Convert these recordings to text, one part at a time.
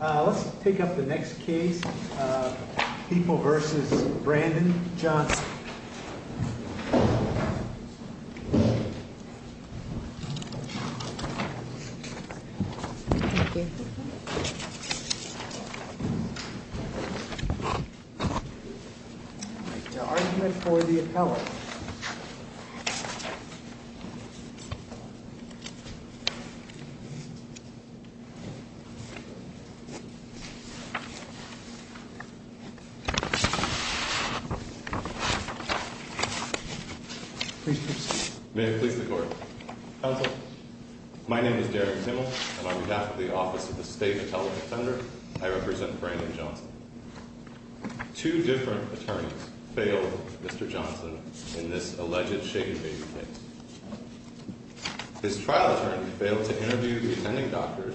Let's take up the next case, People v. Brandon Johnson The argument for the appellate attorney, Derek Zimmel, on behalf of the Office of the State Appellate Attorney General, I represent Brandon Johnson. Two different attorneys failed Mr. Johnson in this alleged shaken baby case. His trial attorney failed to interview the attending doctors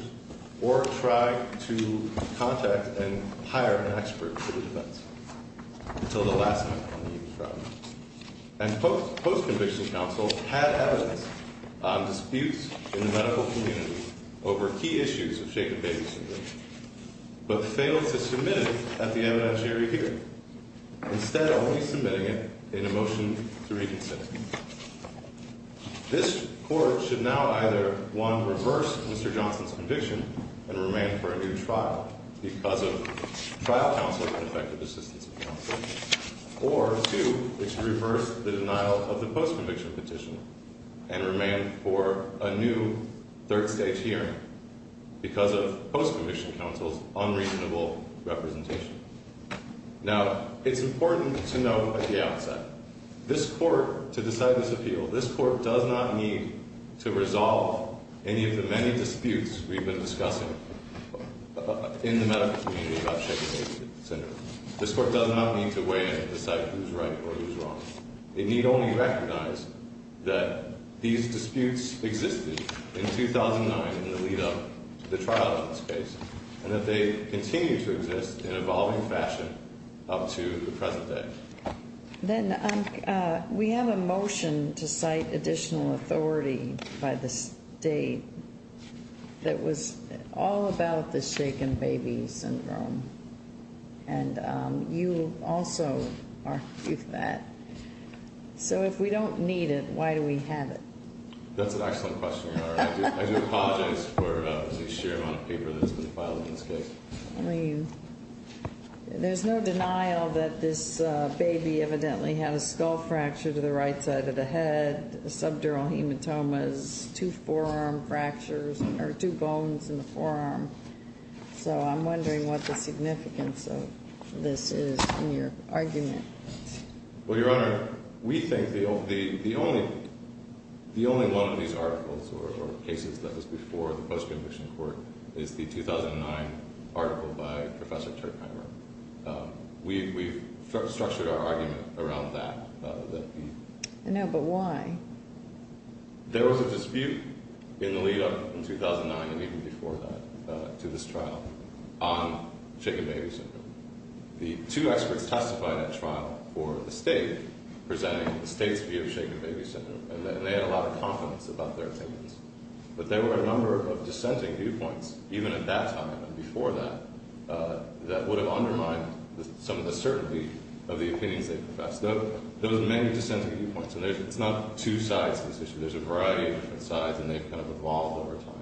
or try to contact and hire an expert for the defense until the last minute on the evening trial. And post-conviction counsel had evidence on disputes in the medical community over key issues of shaken baby syndrome, but failed to submit it at the evidentiary hearing, instead only submitting it in a motion to reconsider. This Court should now either, one, reverse Mr. Johnson's conviction and remain for a new trial because of trial counsel's ineffective assistance in counseling, or two, it should reverse the denial of the post-conviction petition and remain for a new third-stage hearing because of post-conviction counsel's unreasonable representation. Now, it's important to note at the outset, this Court, to decide this appeal, this Court does not need to resolve any of the many disputes we've been discussing in the medical community about shaken baby syndrome. This Court does not need to weigh in to decide who's right or who's wrong. It need only recognize that these disputes existed in 2009 in the lead-up to the trial in this case, and that they continue to exist in evolving fashion up to the present day. Then, we have a motion to cite additional authority by the State that was all about the shaken baby syndrome, and you also argue that. So if we don't need it, why do we have it? That's an excellent question, Your Honor. I do apologize for the sheer amount of paper that's been filed in this case. There's no denial that this baby evidently had a skull fracture to the right side of the head, subdural hematomas, two forearm fractures, or two bones in the forearm. So I'm wondering what the significance of this is in your argument. Well, Your Honor, we think the only one of these articles or cases that was before the post-conviction court is the 2009 article by Professor Turkheimer. We've structured our argument around that. I know, but why? There was a dispute in the lead-up in 2009 and even before that to this trial on shaken baby syndrome. The two experts testifying at trial for the State presenting the State's view of shaken baby syndrome, and they had a lot of confidence about their opinions. But there were a number of dissenting viewpoints, even at that time and before that, that would have undermined some of the certainty of the opinions they professed. There were many dissenting viewpoints, and it's not two sides to this issue. There's a variety of different sides, and they've kind of evolved over time.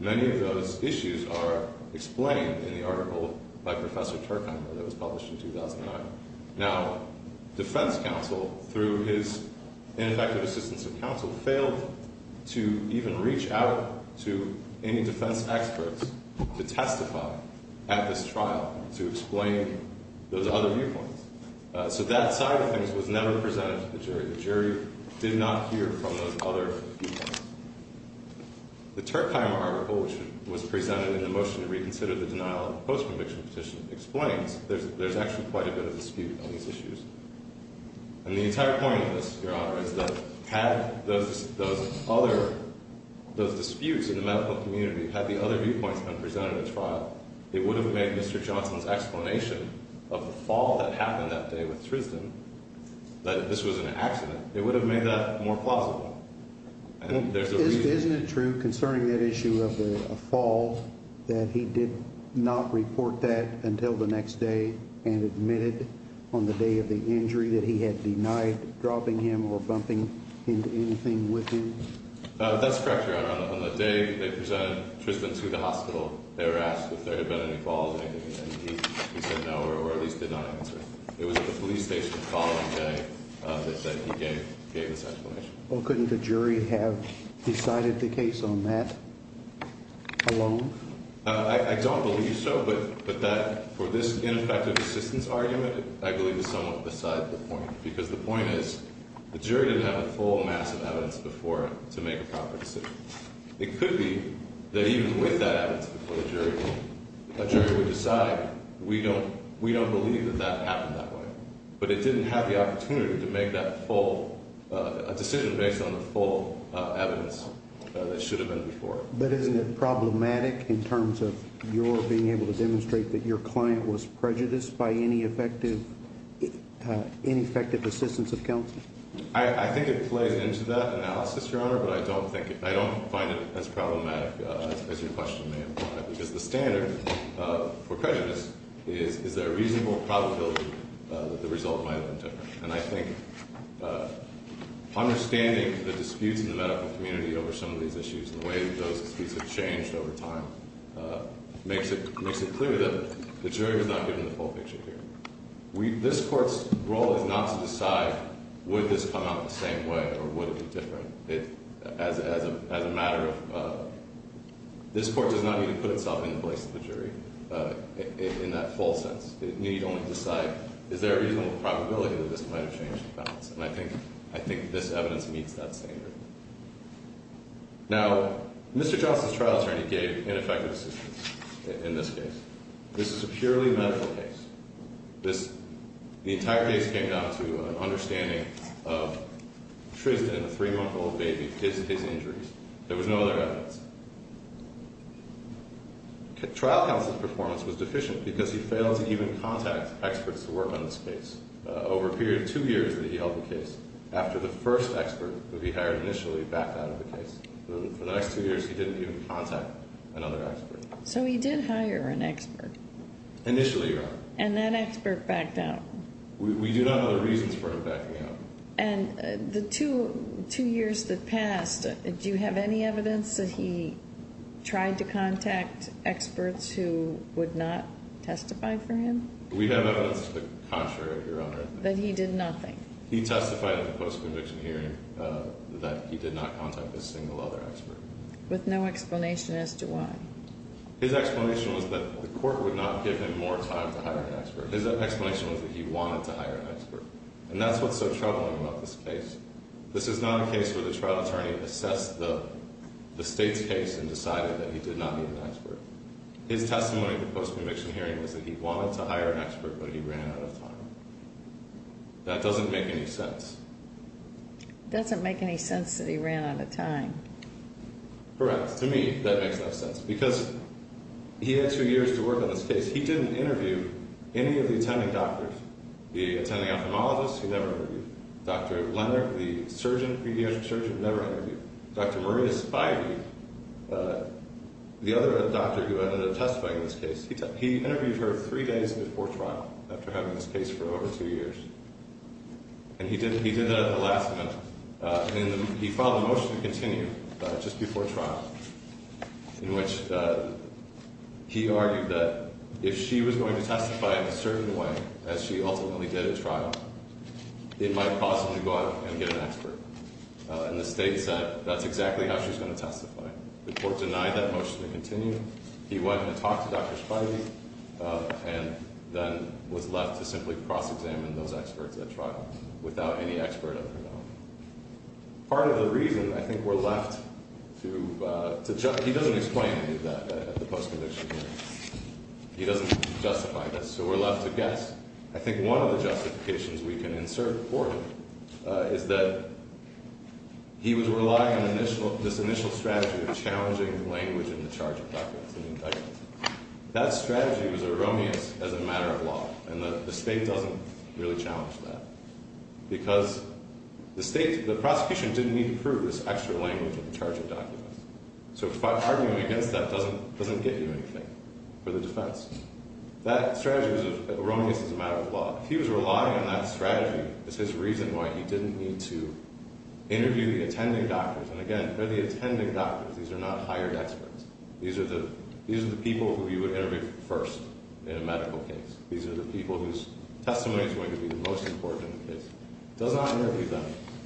Many of those issues are explained in the article by Professor Turkheimer that was published in 2009. Now, defense counsel, through his ineffective assistance of counsel, failed to even reach out to any defense experts to testify at this trial to explain those other viewpoints. So that side of things was never presented to the jury. The jury did not hear from those other viewpoints. The Turkheimer article, which was presented in the motion to reconsider the denial of the post-conviction petition, explains there's actually quite a bit of dispute on these issues. And the entire point of this, Your Honor, is that had those disputes in the medical community, had the other viewpoints been presented at trial, it would have made Mr. Johnson's explanation of the fall that happened that day with Trisden, that this was an accident, it would have made that more plausible. Isn't it true, concerning that issue of the fall, that he did not report that until the next day and admitted on the day of the injury that he had denied dropping him or bumping into anything with him? That's correct, Your Honor. On the day they presented Trisden to the hospital, they were asked if there had been any falls or anything, and he said no, or at least did not answer. It was at the police station the following day that he gave this explanation. Well, couldn't the jury have decided the case on that alone? I don't believe so, but that, for this ineffective assistance argument, I believe is somewhat beside the point, because the point is the jury didn't have a full mass of evidence before it to make a proper decision. It could be that even with that evidence before the jury, a jury would decide, we don't believe that that happened that way. But it didn't have the opportunity to make that full, a decision based on the full evidence that should have been before it. But isn't it problematic in terms of your being able to demonstrate that your client was prejudiced by ineffective assistance of counsel? I think it plays into that analysis, Your Honor, but I don't think it, I don't find it as problematic as your question may imply. Because the standard for prejudice is, is there a reasonable probability that the result might have been different? And I think understanding the disputes in the medical community over some of these issues and the way that those disputes have changed over time makes it clear that the jury was not given the full picture here. This Court's role is not to decide, would this come out the same way or would it be different? As a matter of, this Court does not need to put itself in the place of the jury in that full sense. It need only decide, is there a reasonable probability that this might have changed the balance? And I think this evidence meets that standard. Now, Mr. Johnson's trial attorney gave ineffective assistance in this case. This is a purely medical case. This, the entire case came down to an understanding of Tristan, a three-month-old baby, his injuries. There was no other evidence. Trial counsel's performance was deficient because he failed to even contact experts to work on this case. Over a period of two years that he held the case, after the first expert that he hired initially backed out of the case, for the next two years he didn't even contact another expert. So he did hire an expert. Initially, Your Honor. And that expert backed out. We do not have the reasons for him backing out. And the two years that passed, do you have any evidence that he tried to contact experts who would not testify for him? We have evidence to the contrary, Your Honor. That he did nothing? He testified in the post-conviction hearing that he did not contact a single other expert. With no explanation as to why? His explanation was that the court would not give him more time to hire an expert. His explanation was that he wanted to hire an expert. And that's what's so troubling about this case. This is not a case where the trial attorney assessed the state's case and decided that he did not need an expert. His testimony in the post-conviction hearing was that he wanted to hire an expert, but he ran out of time. That doesn't make any sense. It doesn't make any sense that he ran out of time. Correct. To me, that makes no sense. Because he had two years to work on this case. He didn't interview any of the attending doctors. The attending ophthalmologist, he never interviewed. Dr. Leonard, the surgeon, pediatric surgeon, never interviewed. Dr. Maria Spivey, the other doctor who ended up testifying in this case, he interviewed her three days before trial after having this case for over two years. And he did that at the last minute. And he filed a motion to continue just before trial in which he argued that if she was going to testify in a certain way as she ultimately did at trial, it might cause him to go out and get an expert. And the state said that's exactly how she's going to testify. The court denied that motion to continue. He went and talked to Dr. Spivey and then was left to simply cross-examine those experts at trial without any expert of his own. Part of the reason, I think, we're left to judge. He doesn't explain that at the post-conviction hearing. He doesn't justify this. So we're left to guess. I think one of the justifications we can insert for him is that he was relying on this initial strategy of challenging language in the charge of records and indictments. That strategy was erroneous as a matter of law. And the state doesn't really challenge that because the prosecution didn't need to prove this extra language in the charge of documents. So arguing against that doesn't get you anything for the defense. That strategy was erroneous as a matter of law. If he was relying on that strategy, it's his reason why he didn't need to interview the attending doctors. And again, they're the attending doctors. These are not hired experts. These are the people who you would interview first in a medical case. These are the people whose testimony is going to be the most important in the case. He does not interview them.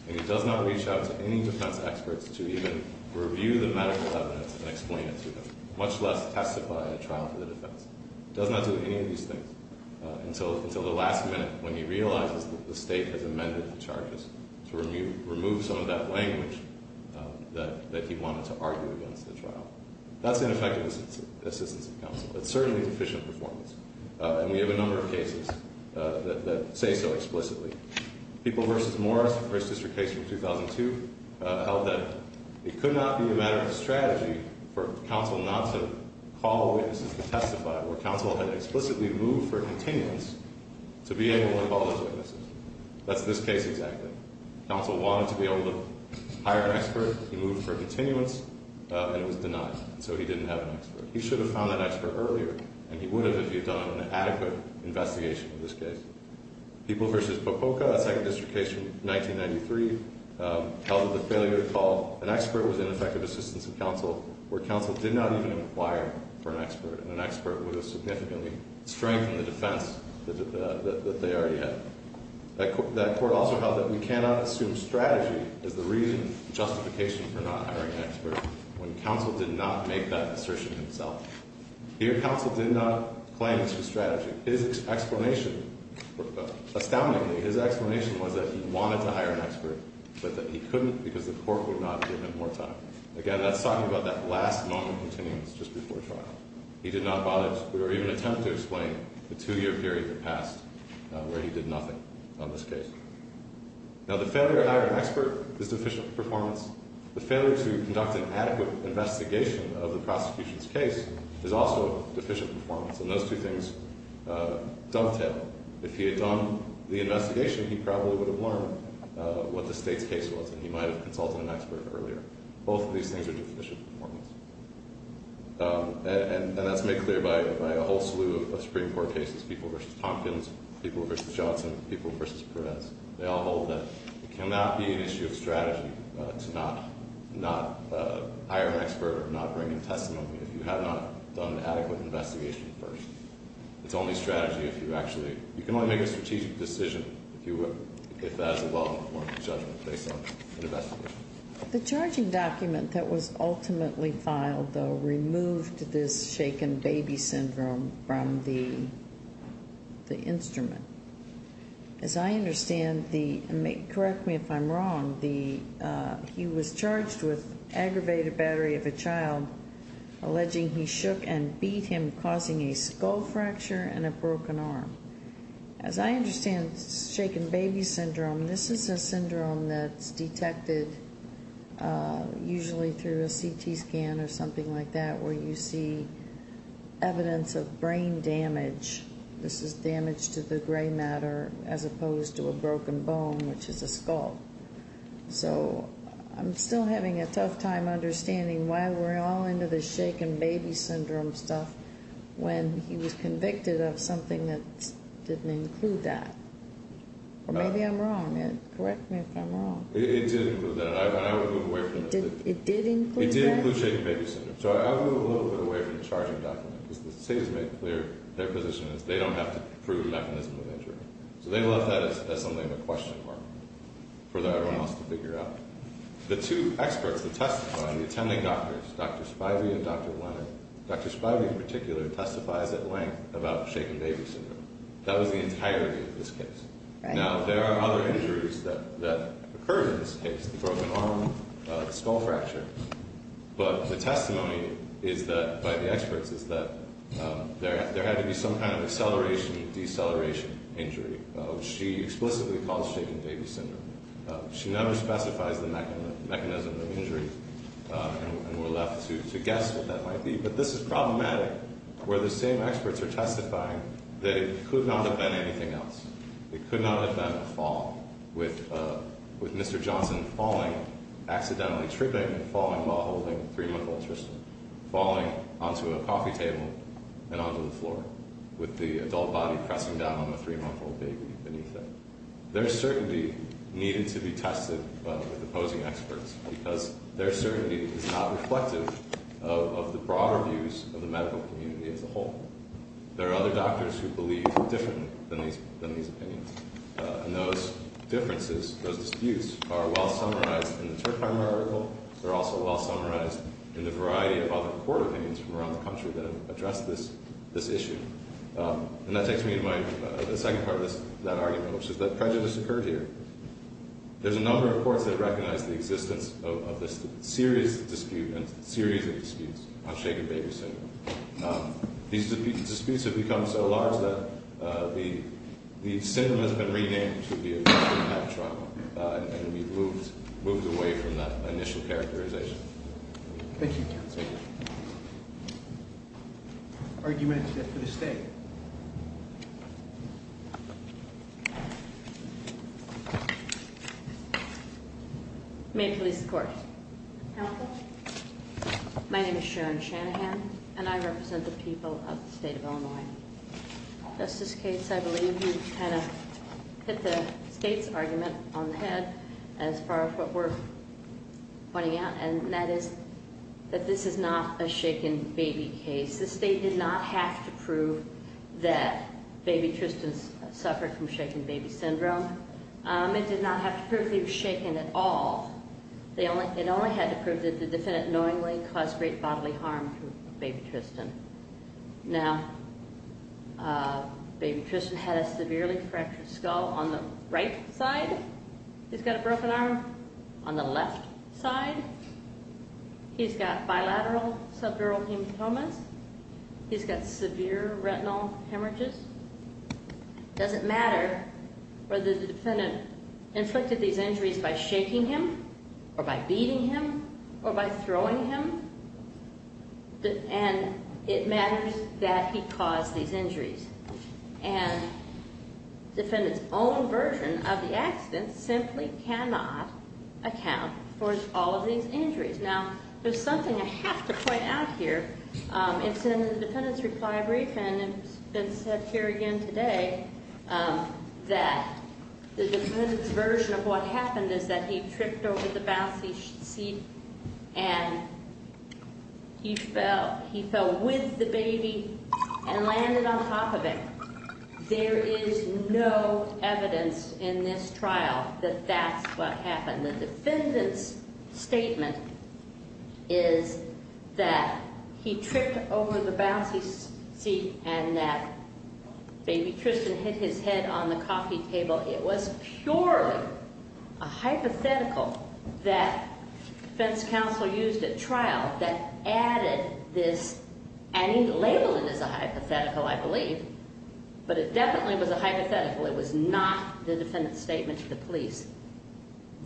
And he does not reach out to any defense experts to even review the medical evidence and explain it to them, much less testify in a trial for the defense. He does not do any of these things until the last minute when he realizes that the state has amended the charges to remove some of that language that he wanted to argue against the trial. That's ineffective assistance of counsel. It's certainly deficient performance. And we have a number of cases that say so explicitly. People v. Morris, first district case from 2002, held that it could not be a matter of strategy for counsel not to call witnesses to testify where counsel had explicitly moved for continuance to be able to call those witnesses. That's this case exactly. Counsel wanted to be able to hire an expert. He moved for continuance, and it was denied. So he didn't have an expert. He should have found that expert earlier, and he would have if he had done an adequate investigation of this case. People v. Popoka, a second district case from 1993, held that the failure to call an expert was ineffective assistance of counsel where counsel did not even inquire for an expert, and an expert would have significantly strengthened the defense that they already had. That court also held that we cannot assume strategy is the reason and justification for not hiring an expert when counsel did not make that assertion himself. Here, counsel did not claim this was strategy. His explanation, astoundingly, his explanation was that he wanted to hire an expert, but that he couldn't because the court would not give him more time. Again, that's talking about that last moment of continuance just before trial. He did not bother or even attempt to explain the two-year period that passed where he did nothing on this case. Now, the failure to hire an expert is deficient performance. The failure to conduct an adequate investigation of the prosecution's case is also deficient performance, and those two things dovetail. If he had done the investigation, he probably would have learned what the state's case was, and he might have consulted an expert earlier. Both of these things are deficient performance, and that's made clear by a whole slew of Supreme Court cases, people v. Tompkins, people v. Johnson, people v. Perez. They all hold that it cannot be an issue of strategy to not hire an expert or not bring a testimony if you have not done an adequate investigation first. It's only strategy if you actually, you can only make a strategic decision if that is a well-informed judgment based on an investigation. The charging document that was ultimately filed, though, removed this shaken baby syndrome from the instrument. As I understand, correct me if I'm wrong, he was charged with aggravated battery of a child, alleging he shook and beat him, causing a skull fracture and a broken arm. As I understand shaken baby syndrome, this is a syndrome that's detected usually through a CT scan or something like that where you see evidence of brain damage. This is damage to the gray matter as opposed to a broken bone, which is a skull. So I'm still having a tough time understanding why we're all into this shaken baby syndrome stuff when he was convicted of something that didn't include that. Or maybe I'm wrong. Correct me if I'm wrong. It did include that, and I would move away from it. It did include that? It did include shaken baby syndrome. So I would move a little bit away from the charging document because the state has made clear their position is they don't have to prove mechanism of injury. So they left that as something to question or for everyone else to figure out. The two experts that testified, the attending doctors, Dr. Spivey and Dr. Leonard, Dr. Spivey in particular testifies at length about shaken baby syndrome. That was the entirety of this case. Now, there are other injuries that occurred in this case, the broken arm, the skull fracture, but the testimony by the experts is that there had to be some kind of acceleration-deceleration injury. She explicitly calls shaken baby syndrome. She never specifies the mechanism of injury, and we're left to guess what that might be. But this is problematic where the same experts are testifying that it could not have been anything else. It could not have been a fall, with Mr. Johnson falling, accidentally tripping, falling while holding a three-month-old Tristan, falling onto a coffee table and onto the floor, with the adult body pressing down on the three-month-old baby beneath it. Their certainty needed to be tested with opposing experts because their certainty is not reflective of the broader views of the medical community as a whole. There are other doctors who believe differently than these opinions, and those differences, those disputes, are well-summarized in the Terpheim article. They're also well-summarized in the variety of other court opinions from around the country that have addressed this issue. And that takes me to the second part of that argument, which is that prejudice occurred here. There's a number of courts that recognize the existence of this serious dispute and series of disputes on shaken baby syndrome. These disputes have become so large that the syndrome has been renamed to be a victim of child trauma, and we've moved away from that initial characterization. Thank you, counsel. Arguments for this day. Maine Police Court. Counsel. My name is Sharon Shanahan, and I represent the people of the state of Illinois. Justice Cates, I believe you kind of hit the state's argument on the head as far as what we're pointing out, and that is that this is not a shaken baby case. The state did not have to prove that baby Tristan suffered from shaken baby syndrome. It did not have to prove that he was shaken at all. It only had to prove that the defendant knowingly caused great bodily harm to baby Tristan. Now, baby Tristan had a severely fractured skull on the right side. He's got a broken arm on the left side. He's got bilateral subdural hematomas. He's got severe retinal hemorrhages. It doesn't matter whether the defendant inflicted these injuries by shaking him or by beating him or by throwing him, and it matters that he caused these injuries. And the defendant's own version of the accident simply cannot account for all of these injuries. Now, there's something I have to point out here. It's in the defendant's reply brief, and it's been said here again today, that the defendant's version of what happened is that he tripped over the bouncy seat and he fell. He fell with the baby and landed on top of it. There is no evidence in this trial that that's what happened. The defendant's statement is that he tripped over the bouncy seat and that baby Tristan hit his head on the coffee table. It was purely a hypothetical that defense counsel used at trial that added this, and he labeled it as a hypothetical, I believe, but it definitely was a hypothetical. It was not the defendant's statement to the police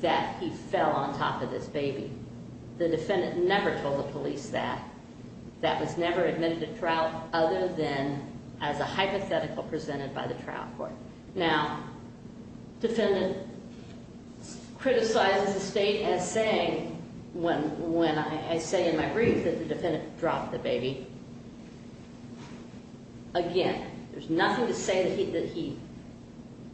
that he fell on top of this baby. The defendant never told the police that. That was never admitted to trial other than as a hypothetical presented by the trial court. Now, defendant criticizes the state as saying, when I say in my brief that the defendant dropped the baby, again, there's nothing to say that he,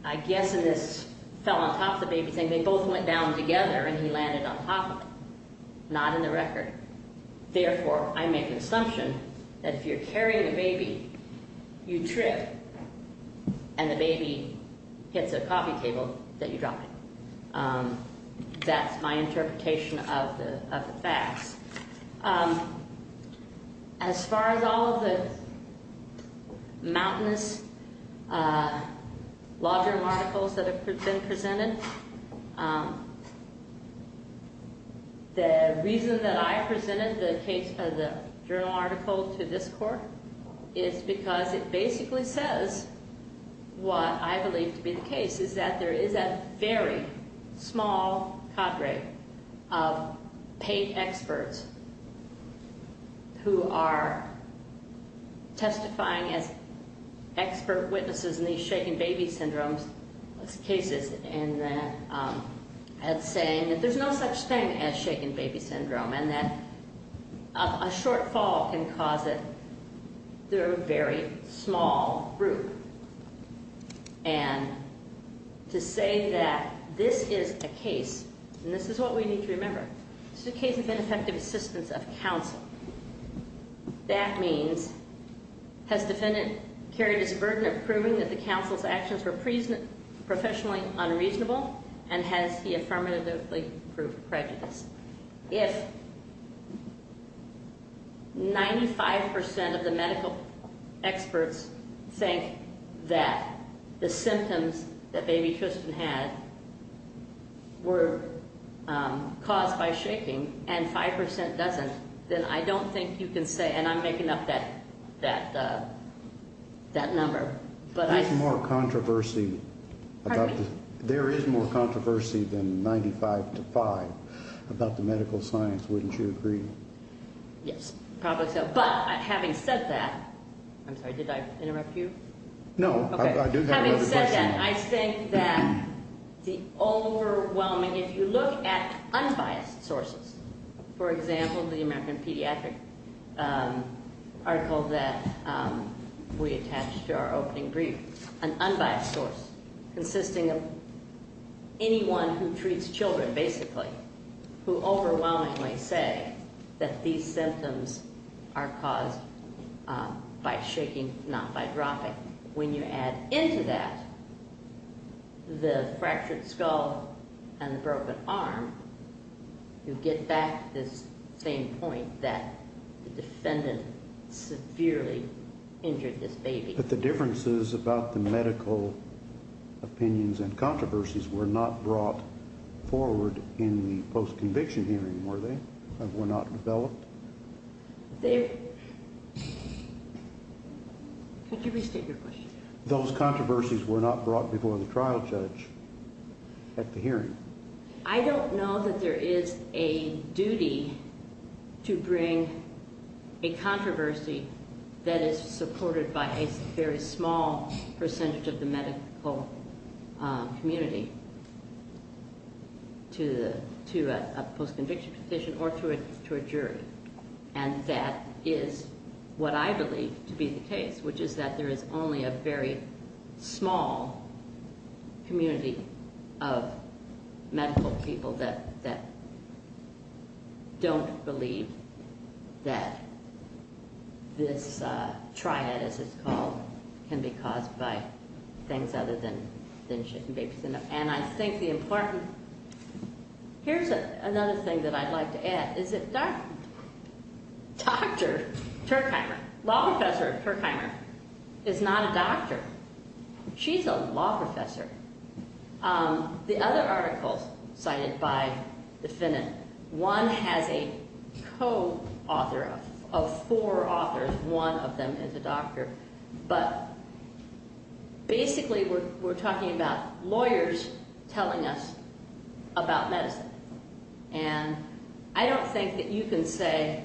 I guess in this fell on top of the baby thing, they both went down together and he landed on top of it. Not in the record. Therefore, I make an assumption that if you're carrying a baby, you trip, and the baby hits a coffee table, that you drop it. That's my interpretation of the facts. As far as all of the mountainous law journal articles that have been presented, the reason that I presented the case of the journal article to this court is because it basically says what I believe to be the case, is that there is a very small cadre of paid experts who are testifying as expert witnesses in these shaken baby syndromes cases and saying that there's no such thing as shaken baby syndrome and that a shortfall can cause it. They're a very small group. And to say that this is a case, and this is what we need to remember, this is a case of ineffective assistance of counsel. That means, has defendant carried his burden of proving that the counsel's actions were professionally unreasonable, and has he affirmatively proved prejudiced? If 95% of the medical experts think that the symptoms that baby Tristan had were caused by shaking and 5% doesn't, then I don't think you can say, and I'm making up that number. There is more controversy than 95 to 5 about the medical science, wouldn't you agree? Yes, probably so. But having said that, I'm sorry, did I interrupt you? No, I do have another question. Having said that, I think that the overwhelming, if you look at unbiased sources, for example, the American Pediatric article that we attached to our opening brief, an unbiased source consisting of anyone who treats children, basically, who overwhelmingly say that these symptoms are caused by shaking, not by dropping. But when you add into that the fractured skull and broken arm, you get back to this same point that the defendant severely injured this baby. But the differences about the medical opinions and controversies were not brought forward in the post-conviction hearing, were they? Were not developed? Could you restate your question? Those controversies were not brought before the trial judge at the hearing. I don't know that there is a duty to bring a controversy that is supported by a very small percentage of the medical community to a post-conviction petition or to a jury. And that is what I believe to be the case, which is that there is only a very small community of medical people that don't believe that this triad, as it's called, can be caused by things other than shaking babies. And I think the important... Here's another thing that I'd like to add. Is that Dr. Turkheimer, law professor of Turkheimer, is not a doctor. She's a law professor. The other articles cited by the defendant, one has a co-author of four authors, one of them is a doctor. But basically we're talking about lawyers telling us about medicine. And I don't think that you can say...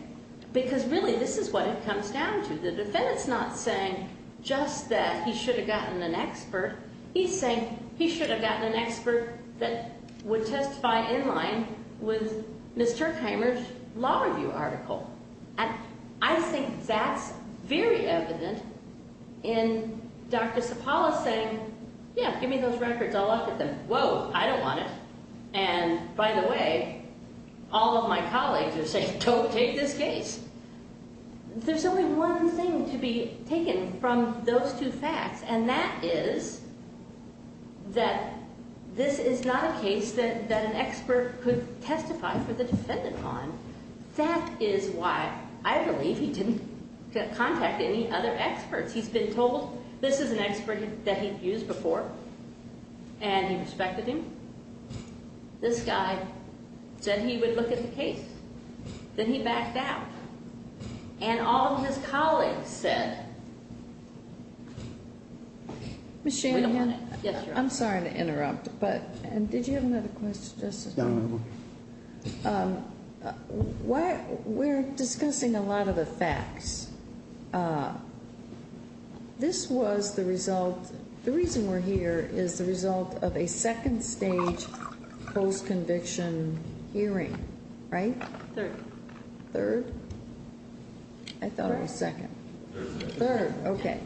Because really this is what it comes down to. The defendant's not saying just that he should have gotten an expert. He's saying he should have gotten an expert that would testify in line with Ms. Turkheimer's law review article. And I think that's very evident in Dr. Sapala saying, yeah, give me those records, I'll look at them. Whoa, I don't want it. And by the way, all of my colleagues are saying, don't take this case. There's only one thing to be taken from those two facts, and that is that this is not a case that an expert could testify for the defendant on. That is why I believe he didn't contact any other experts. He's been told this is an expert that he'd used before, and he respected him. This guy said he would look at the case. Then he backed out. And all of his colleagues said, we don't want it. Ms. Shanahan, I'm sorry to interrupt, but did you have another question? No, ma'am. We're discussing a lot of the facts. This was the result. The reason we're here is the result of a second stage post-conviction hearing, right? Third. Third? I thought it was second. Third. Third, okay.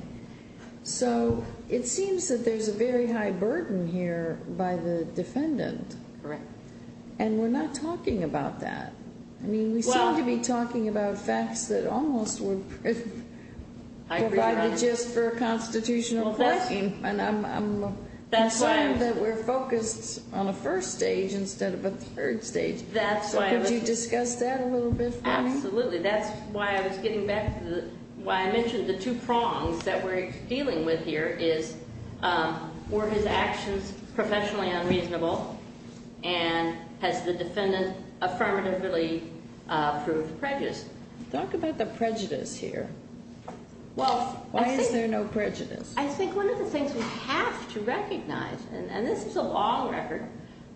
So it seems that there's a very high burden here by the defendant. Correct. And we're not talking about that. I mean, we seem to be talking about facts that almost were provided just for a constitutional question. And I'm concerned that we're focused on a first stage instead of a third stage. So could you discuss that a little bit for me? Absolutely. That's why I was getting back to why I mentioned the two prongs that we're dealing with here is, were his actions professionally unreasonable? And has the defendant affirmatively proved prejudiced? Talk about the prejudice here. Why is there no prejudice? I think one of the things we have to recognize, and this is a long record,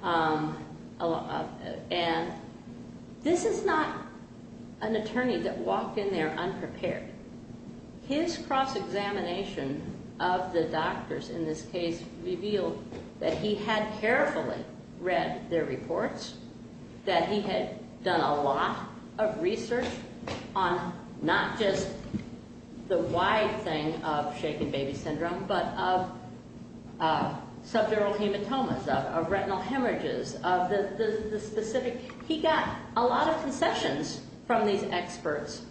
and this is not an attorney that walked in there unprepared. His cross-examination of the doctors in this case revealed that he had carefully read their reports, that he had done a lot of research on not just the wide thing of shaken baby syndrome but of subdural hematomas, of retinal hemorrhages, of the specific. He got a lot of concessions from these experts.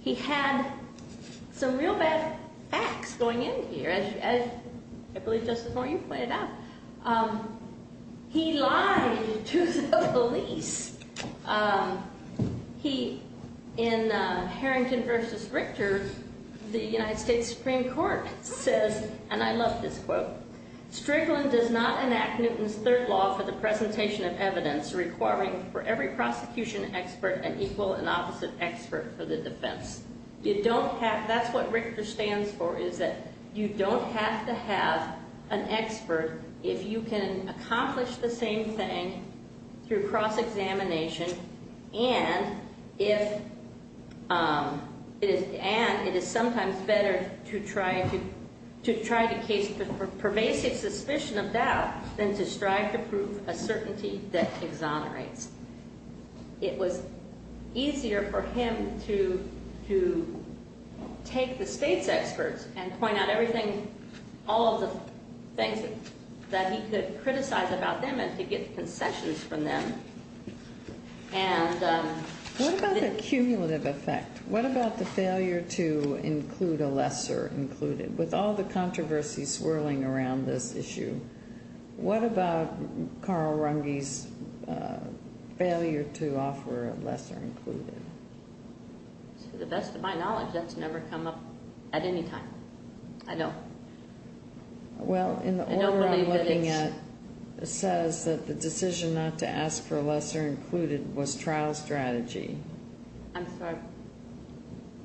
He had some real bad facts going in here, as I believe Justice Moore, you pointed out. He lied to the police. In Harrington v. Richter, the United States Supreme Court says, and I love this quote, Strickland does not enact Newton's Third Law for the presentation of evidence requiring for every prosecution expert an equal and opposite expert for the defense. That's what Richter stands for, is that you don't have to have an expert if you can accomplish the same thing through cross-examination and it is sometimes better to try to case the pervasive suspicion of doubt than to strive to prove a certainty that exonerates. It was easier for him to take the state's experts and point out everything, all of the things that he could criticize about them and to get concessions from them What about the cumulative effect? What about the failure to include a lesser included? With all the controversy swirling around this issue, what about Carl Runge's failure to offer a lesser included? To the best of my knowledge, that's never come up at any time. I don't believe that it's... Well, in the order I'm looking at, it says that the decision not to ask for a lesser included was trial strategy. I'm sorry.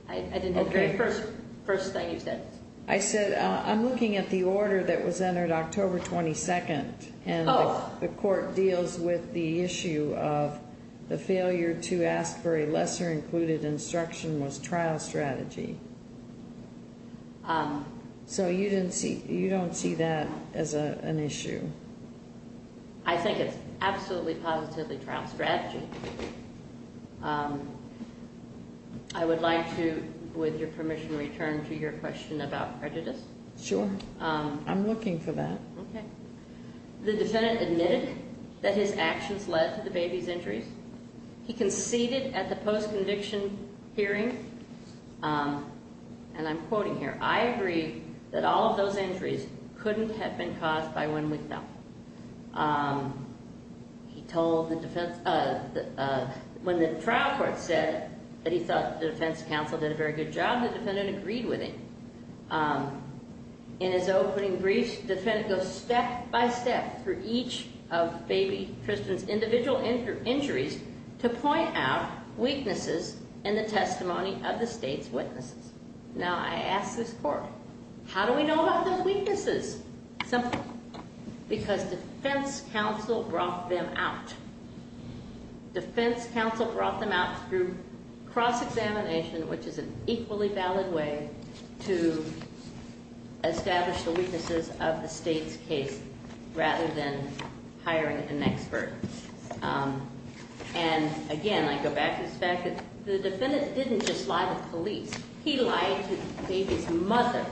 I didn't hear the very first thing you said. I said, I'm looking at the order that was entered October 22nd and the court deals with the issue of the failure to ask for a lesser included instruction was trial strategy. So you don't see that as an issue? I think it's absolutely positively trial strategy. I would like to, with your permission, return to your question about prejudice. Sure. I'm looking for that. Okay. The defendant admitted that his actions led to the baby's injuries. He conceded at the post-conviction hearing and I'm quoting here, I agree that all of those injuries couldn't have been caused by one window. He told the defense... When the trial court said that he thought the defense counsel did a very good job, the defendant agreed with him. In his opening brief, the defendant goes step by step through each of baby Tristan's individual injuries to point out weaknesses in the testimony of the state's witnesses. Now I ask this court, how do we know about those weaknesses? Simple. Because defense counsel brought them out. Defense counsel brought them out through cross-examination, which is an equally valid way to establish the weaknesses of the state's case rather than hiring an expert. And again, I go back to the fact that the defendant didn't just lie to police. He lied to the baby's mother.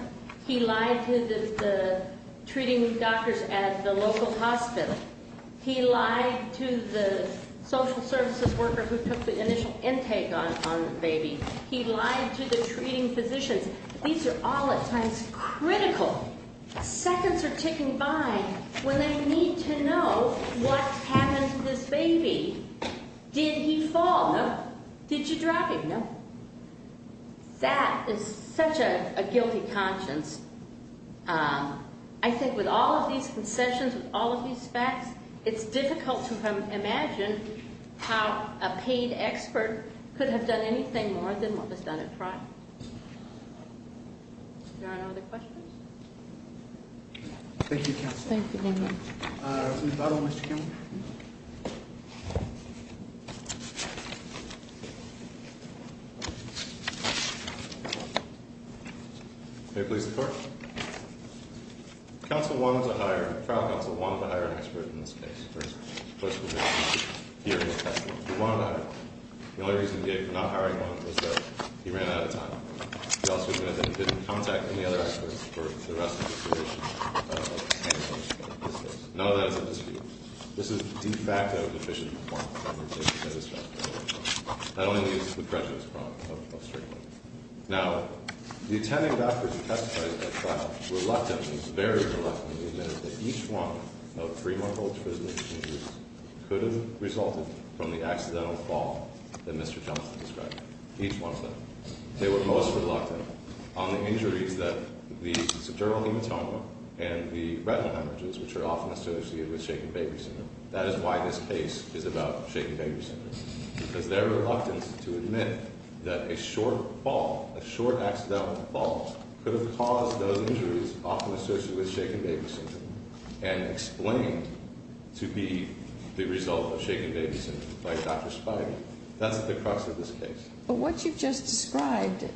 He lied to the treating doctors at the local hospital. He lied to the social services worker who took the initial intake on the baby. He lied to the treating physicians. These are all at times critical. Seconds are ticking by when they need to know what happened to this baby. Did he fall? No. Did you drive? No. That is such a guilty conscience. I think with all of these concessions, with all of these facts, it's difficult to imagine how a paid expert could have done anything more than what was done at trial. Are there any other questions? Thank you, counsel. Thank you. May it please the Court? Counsel wanted to hire, the trial counsel wanted to hire an expert in this case. The only reason he did not hire one was that he ran out of time. He also didn't have any contact with any other experts for the rest of the duration of this case. None of that is a dispute. This is de facto deficient performance of the patient and his family. Not only is it the prejudice problem of straight women. Now, the attending doctors who testified at trial reluctantly, very reluctantly, admitted that each one of three-month-old prison-aging youths could have resulted from the accidental fall that Mr. Johnson described. Each one of them. They were most reluctant on the injuries that the sedentary hematoma and the retinal hemorrhages, which are often associated with shaken baby syndrome. That is why this case is about shaken baby syndrome. Because their reluctance to admit that a short fall, a short accidental fall, could have caused those injuries often associated with shaken baby syndrome and explained to be the result of shaken baby syndrome by Dr. Spivey. That's at the cross of this case. But what you've just described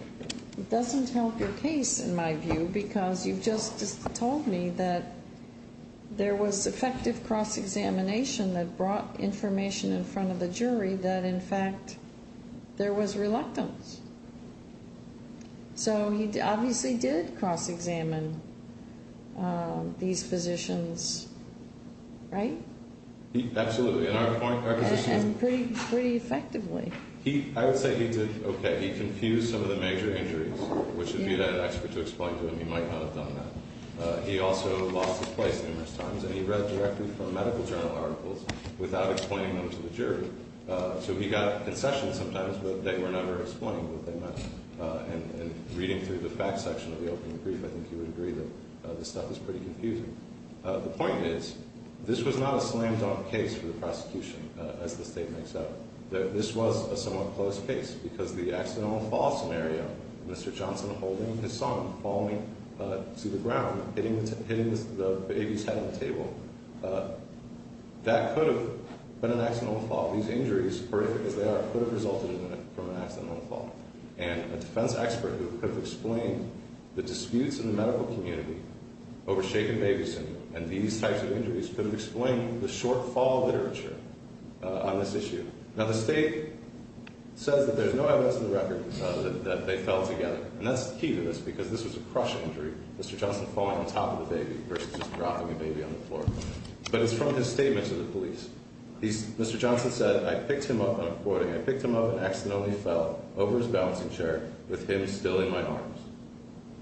doesn't help your case, in my view, because you've just told me that there was effective cross-examination that brought information in front of the jury that, in fact, there was reluctance. So he obviously did cross-examine these physicians, right? Absolutely. And pretty effectively. I would say he did okay. He confused some of the major injuries, which if you had an expert to explain to him, he might not have done that. He also lost his place numerous times, and he read directly from medical journal articles without explaining them to the jury. So he got concessions sometimes, but they were never explained. And reading through the fact section of the opening brief, I think you would agree that this stuff is pretty confusing. The point is, this was not a slam-dunk case for the prosecution, as the state makes out. This was a somewhat close case because the accidental fall scenario, Mr. Johnson holding his son, falling to the ground, hitting the baby's head on the table, that could have been an accidental fall. These injuries, horrific as they are, could have resulted from an accidental fall. And a defense expert who could have explained the disputes in the medical community over shaken baby syndrome and these types of injuries could have explained the short-fall literature on this issue. Now, the state says that there's no evidence in the record that they fell together. And that's key to this because this was a crush injury, Mr. Johnson falling on top of the baby versus just dropping the baby on the floor. But it's from his statement to the police. Mr. Johnson said, I picked him up, and I'm quoting, I picked him up and accidentally fell over his balancing chair with him still in my arms.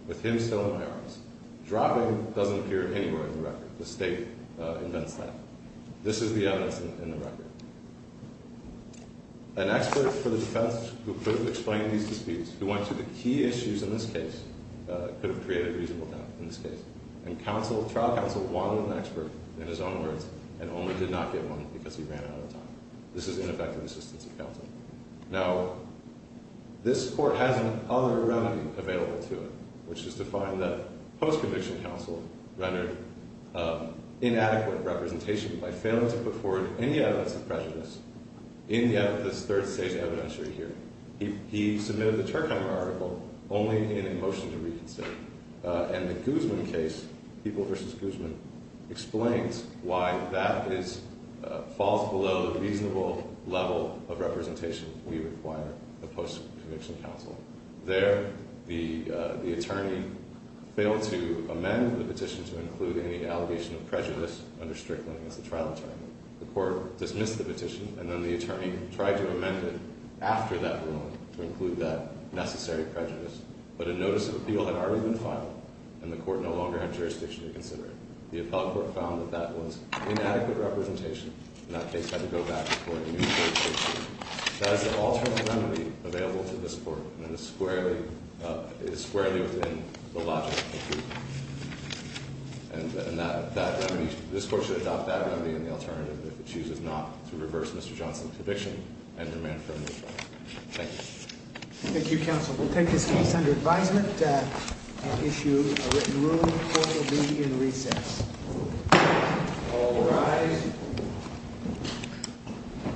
With him still in my arms. Dropping doesn't appear anywhere in the record. The state invents that. This is the evidence in the record. An expert for the defense who could have explained these disputes, who went through the key issues in this case, could have created reasonable doubt in this case. And trial counsel wanted an expert in his own words and only did not get one because he ran out of time. This is ineffective assistance of counsel. Now, this court has another remedy available to it, which is to find that post-conviction counsel rendered inadequate representation by failing to put forward any evidence of prejudice in this third-stage evidentiary here. He submitted the Turkheimer article only in a motion to reconsider. And the Guzman case, People v. Guzman, explains why that falls below the reasonable level of representation we require of post-conviction counsel. There, the attorney failed to amend the petition to include any allegation of prejudice under Strickland as the trial attorney. The court dismissed the petition, and then the attorney tried to amend it after that ruling to include that necessary prejudice. But a notice of appeal had already been filed, and the court no longer had jurisdiction to consider it. The appellate court found that that was inadequate representation, and that case had to go back to put forward a new third-stage suit. That is the alternative remedy available to this court, and it is squarely within the logic of the case. And this court should adopt that remedy and the alternative if it chooses not to reverse Mr. Johnson's conviction and remain friendly with trial. Thank you. Thank you, counsel. We'll take this case under advisement and issue a written ruling. The court will be in recess. All rise.